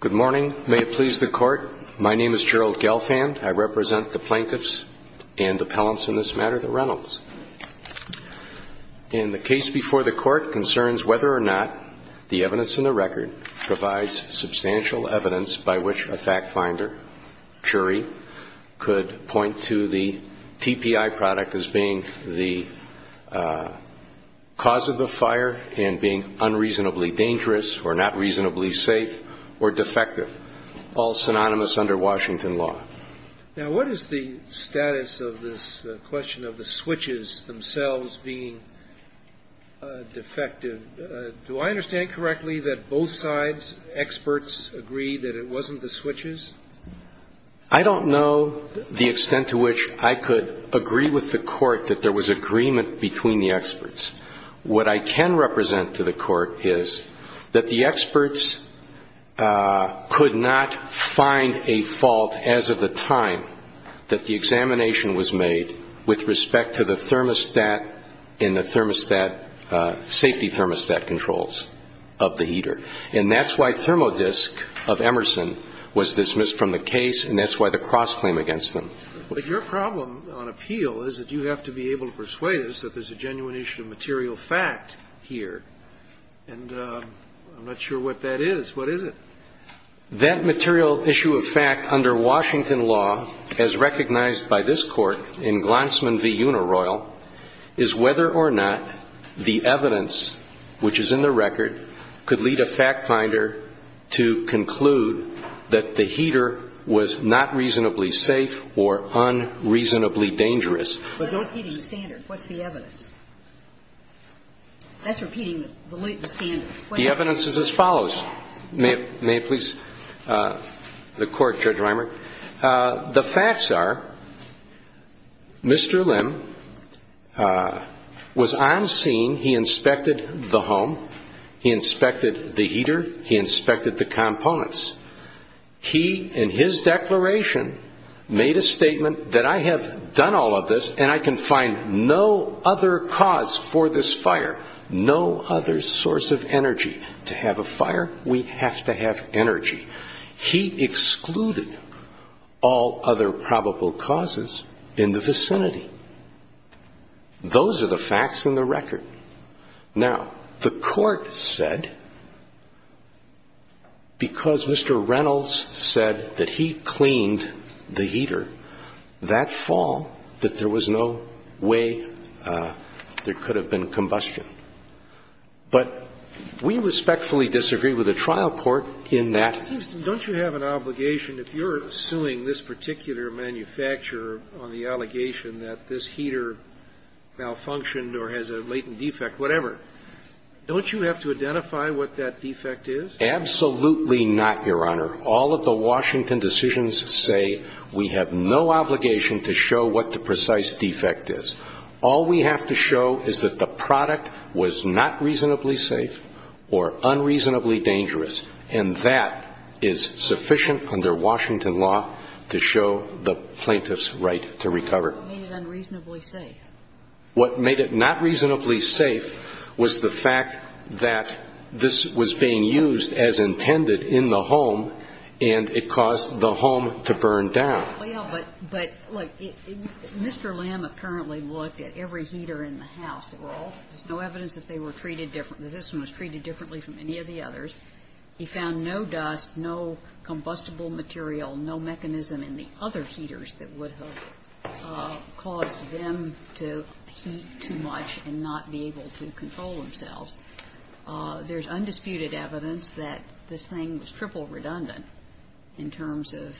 Good morning. May it please the Court. My name is Gerald Gelfand. I represent the Plaintiffs and the Pellants in this matter, the Reynolds. And the case before the Court concerns whether or not the evidence in the record provides substantial evidence by which a fact finder, jury, could point to the TPI product as being the cause of the fire and being unreasonably dangerous or not reasonably safe or defective, all synonymous under Washington law. Now, what is the status of this question of the switches themselves being defective? Do I understand correctly that both sides, experts, agree that it wasn't the switches? I don't know the extent to which I could agree with the Court that there was agreement between the experts. What I can represent to the Court is that the experts could not find a fault as of the time that the examination was made with respect to the thermostat in the thermostat, safety thermostat controls of the heater. And that's why thermodisc of Emerson was dismissed from the case, and that's why the cross-claim against them. But your problem on appeal is that you have to be able to persuade us that there's a genuine issue of material fact here. And I'm not sure what that is. What is it? That material issue of fact under Washington law, as recognized by this Court in Glantzman v. Unaroyal, is whether or not the evidence which is in the record could lead a fact finder to conclude that the heater was not reasonably safe or unreasonably dangerous. But don't heat in the standard. What's the evidence? That's repeating the standard. The evidence is as follows. May it please the Court, Judge Reimer. The facts are Mr. Lim was on scene. He inspected the home. He inspected the heater. He inspected the components. He, in his declaration, made a statement that I have done all of this and I can find no other cause for this fire, no other source of energy. To have a fire, we have to have energy. He excluded all other probable causes in the vicinity. Those are the facts in the record. Now, the Court said, because Mr. Reynolds said that he cleaned the heater, that fall that there was no way there could have been combustion. But we respectfully disagree with the trial court in that. Don't you have an obligation, if you're suing this particular manufacturer on the allegation that this heater malfunctioned or has a latent defect, whatever, don't you have to identify what that defect is? Absolutely not, Your Honor. All of the Washington decisions say we have no obligation to show what the precise defect is. All we have to show is that the product was not reasonably safe or unreasonably dangerous, and that is sufficient under Washington law to show the plaintiff's right to recover. What made it unreasonably safe? What made it not reasonably safe was the fact that this was being used as intended in the home and it caused the home to burn down. Well, but, look, Mr. Lammett currently looked at every heater in the house. There's no evidence that they were treated differently. This one was treated differently from any of the others. He found no dust, no combustible material, no mechanism in the other heaters that would have caused them to heat too much and not be able to control themselves. There's undisputed evidence that this thing was triple redundant in terms of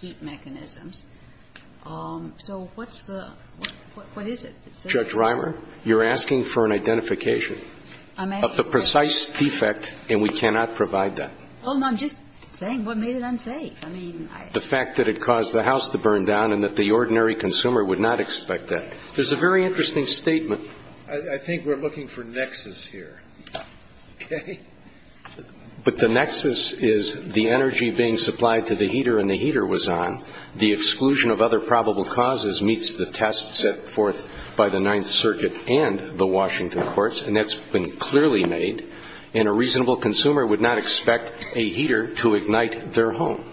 heat mechanisms. So what's the – what is it? Judge Reimer, you're asking for an identification of the precise defect, and we cannot provide that. Well, I'm just saying what made it unsafe. I mean, I – The fact that it caused the house to burn down and that the ordinary consumer would not expect that. There's a very interesting statement. I think we're looking for nexus here. Okay? But the nexus is the energy being supplied to the heater and the heater was on. The exclusion of other probable causes meets the test set forth by the Ninth Circuit and the Washington courts, and that's been clearly made. And a reasonable consumer would not expect a heater to ignite their home.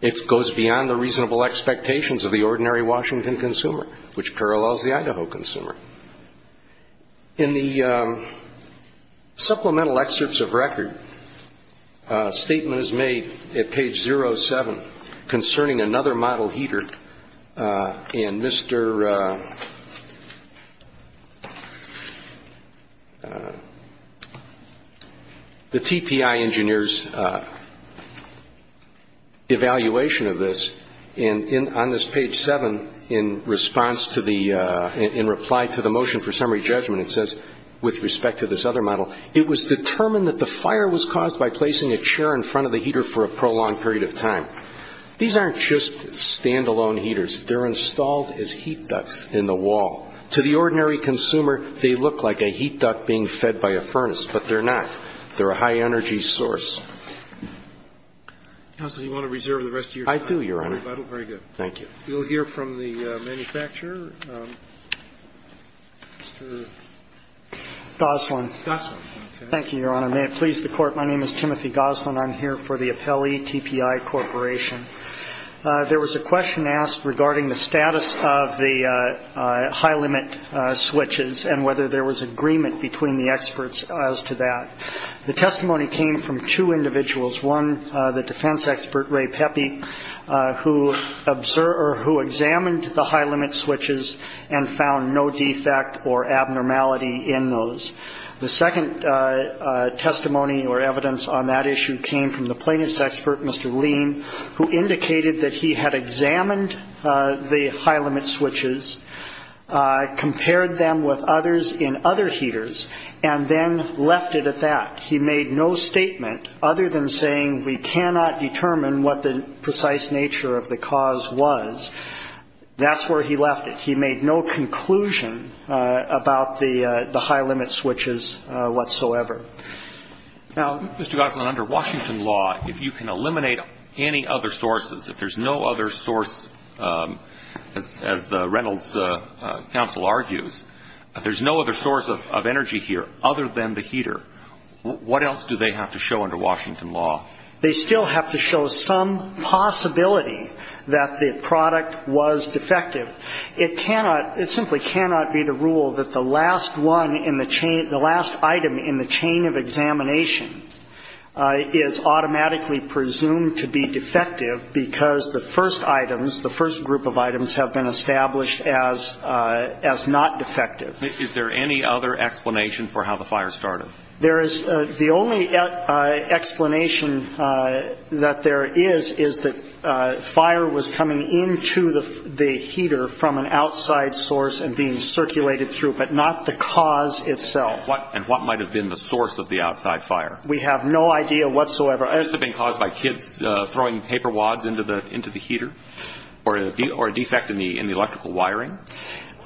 It goes beyond the reasonable expectations of the ordinary Washington consumer, which parallels the Idaho consumer. In the supplemental excerpts of record, a statement is made at page 07 concerning another model heater, and Mr. – the TPI engineer's evaluation of this, and on this page 7, in response to the – in reply to the motion for summary judgment, it says, with respect to this other model, it was determined that the fire was caused by placing a chair in front of the heater for a prolonged period of time. These aren't just stand-alone heaters. They're installed as heat ducts in the wall. To the ordinary consumer, they look like a heat duct being fed by a furnace, but they're not. They're a high-energy source. I do, Your Honor. Thank you. We'll hear from the manufacturer. Mr. Goslin. Goslin. Thank you, Your Honor. May it please the Court. My name is Timothy Goslin. I'm here for the Appellee TPI Corporation. There was a question asked regarding the status of the high-limit switches and whether there was agreement between the experts as to that. The testimony came from two individuals, one, the defense expert, Ray Pepe, who observed or who examined the high-limit switches and found no defect or abnormality in those. The second testimony or evidence on that issue came from the plaintiff's expert, Mr. Lean, who indicated that he had examined the high-limit switches, compared them with others in other heaters, and then left it at that. He made no statement other than saying, we cannot determine what the precise nature of the cause was. That's where he left it. He made no conclusion about the high-limit switches whatsoever. Mr. Goslin, under Washington law, if you can eliminate any other sources, if there's no other source, as the Reynolds counsel argues, if there's no other source of energy here other than the heater, what else do they have to show under Washington law? They still have to show some possibility that the product was defective. It cannot, it simply cannot be the rule that the last one in the chain, the last item in the chain of examination is automatically presumed to be defective because the first items, the first group of items have been established as not defective. Is there any other explanation for how the fire started? There is. The only explanation that there is is that fire was coming into the heater from an outside source and being circulated through, but not the cause itself. And what might have been the source of the outside fire? We have no idea whatsoever. Could this have been caused by kids throwing paper wads into the heater or a defect in the electrical wiring?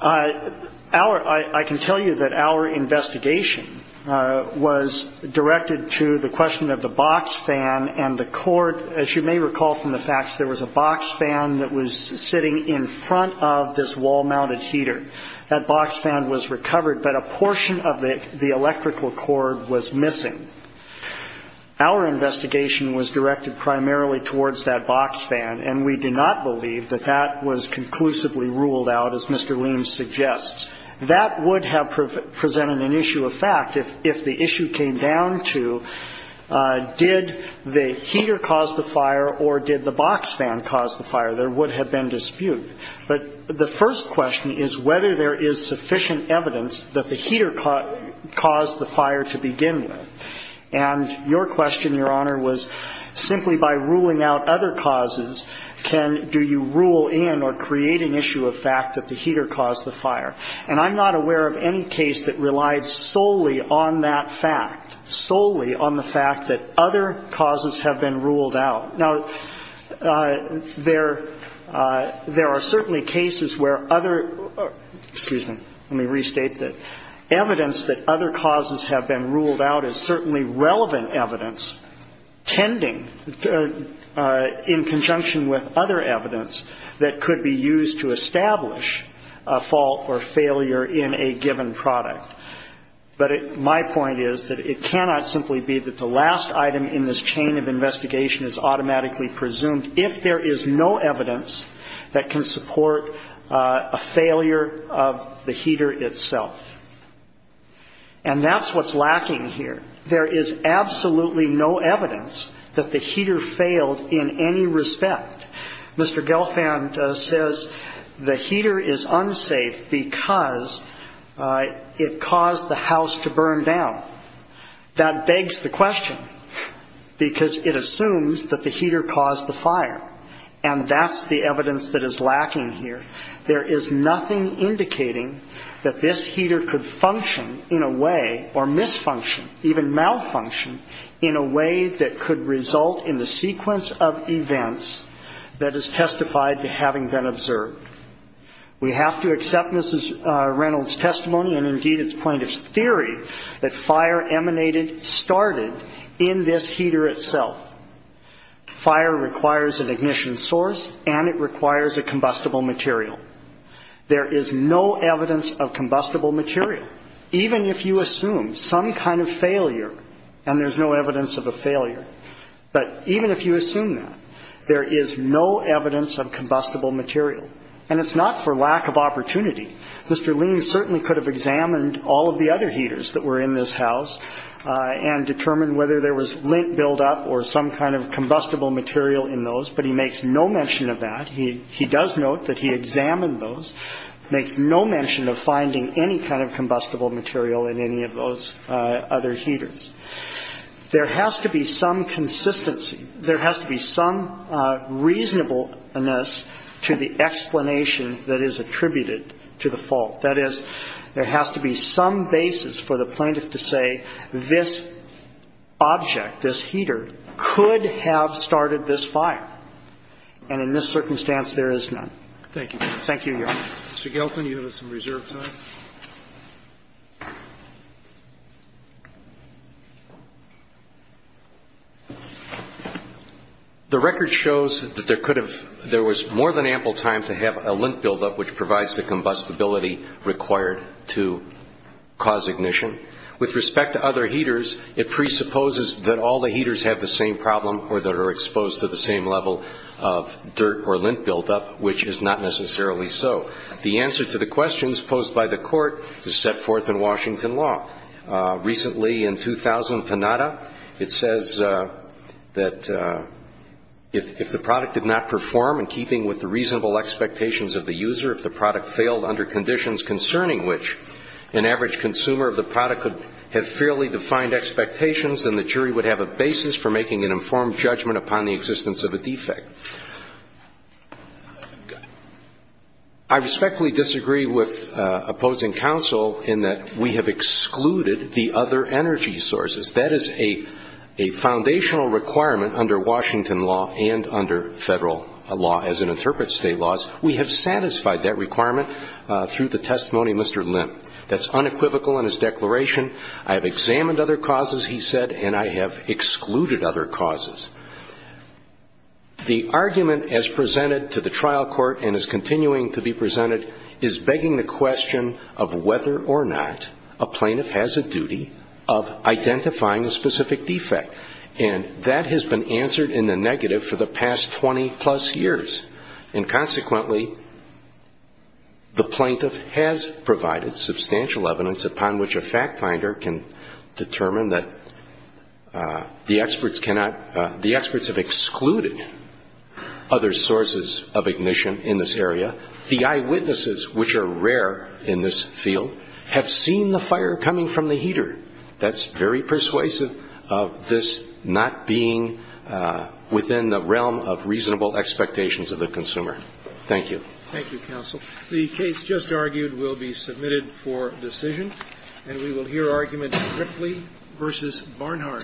I can tell you that our investigation was directed to the question of the box fan and the cord. As you may recall from the facts, there was a box fan that was sitting in front of this wall-mounted heater. That box fan was recovered, but a portion of the electrical cord was missing. Our investigation was directed primarily towards that box fan, and we do not believe that that was conclusively ruled out, as Mr. Liem suggests. That would have presented an issue of fact if the issue came down to did the heater cause the fire or did the box fan cause the fire. There would have been dispute. But the first question is whether there is sufficient evidence that the heater caused the fire to begin with. And your question, Your Honor, was simply by ruling out other causes, do you rule in or create an issue of fact that the heater caused the fire? And I'm not aware of any case that relied solely on that fact, solely on the fact that other causes have been ruled out. Now, there are certainly cases where other ‑‑ excuse me, let me restate that. The evidence that other causes have been ruled out is certainly relevant evidence tending in conjunction with other evidence that could be used to establish a fault or failure in a given product. But my point is that it cannot simply be that the last item in this chain of investigation presumed if there is no evidence that can support a failure of the heater itself. And that's what's lacking here. There is absolutely no evidence that the heater failed in any respect. Mr. Gelfand says the heater is unsafe because it caused the house to burn down. That begs the question because it assumes that the heater caused the fire. And that's the evidence that is lacking here. There is nothing indicating that this heater could function in a way or misfunction, even malfunction, in a way that could result in the sequence of events that is testified to having been observed. We have to accept Mrs. Reynolds' testimony and indeed its plaintiff's theory that fire emanated, started in this heater itself. Fire requires an ignition source and it requires a combustible material. There is no evidence of combustible material. Even if you assume some kind of failure, and there's no evidence of a failure, but even if you assume that, there is no evidence of combustible material. And it's not for lack of opportunity. Mr. Lean certainly could have examined all of the other heaters that were in this house and determined whether there was lint buildup or some kind of combustible material in those, but he makes no mention of that. He does note that he examined those, makes no mention of finding any kind of combustible material in any of those other heaters. There has to be some consistency. There has to be some reasonableness to the explanation that is attributed to the fault. That is, there has to be some basis for the plaintiff to say this object, this heater, could have started this fire. And in this circumstance, there is none. Thank you, Your Honor. Mr. Gelfand, you have some reserve time. The record shows that there was more than ample time to have a lint buildup, which provides the combustibility required to cause ignition. With respect to other heaters, it presupposes that all the heaters have the same problem or that are exposed to the same level of dirt or lint buildup, which is not necessarily so. The answer to the questions posed by the Court is set forth in Washington law. Recently, in 2000, Panada, it says that if the product did not perform in keeping with the reasonable expectations of the user, if the product failed under conditions concerning which an average consumer of the product could have fairly defined expectations, then the jury would have a basis for making an informed judgment upon the existence of a defect. I respectfully disagree with opposing counsel in that we have excluded the other energy sources. That is a foundational requirement under Washington law and under Federal law. As it interprets State laws, we have satisfied that requirement through the testimony of Mr. Lint. That's unequivocal in his declaration. I have examined other causes, he said, and I have excluded other causes. The argument as presented to the trial court and is continuing to be presented is begging the question of whether or not a plaintiff has a duty of identifying a specific defect. And that has been answered in the negative for the past 20-plus years. And consequently, the plaintiff has provided substantial evidence upon which a fact finder can determine that the experts have excluded other sources of ignition in this area. The eyewitnesses, which are rare in this field, have seen the fire coming from the heater. That's very persuasive of this not being within the realm of reasonable expectations of the consumer. Thank you. Thank you, counsel. The case just argued will be submitted for decision. And we will hear arguments Ripley v. Barnhart. Thank you.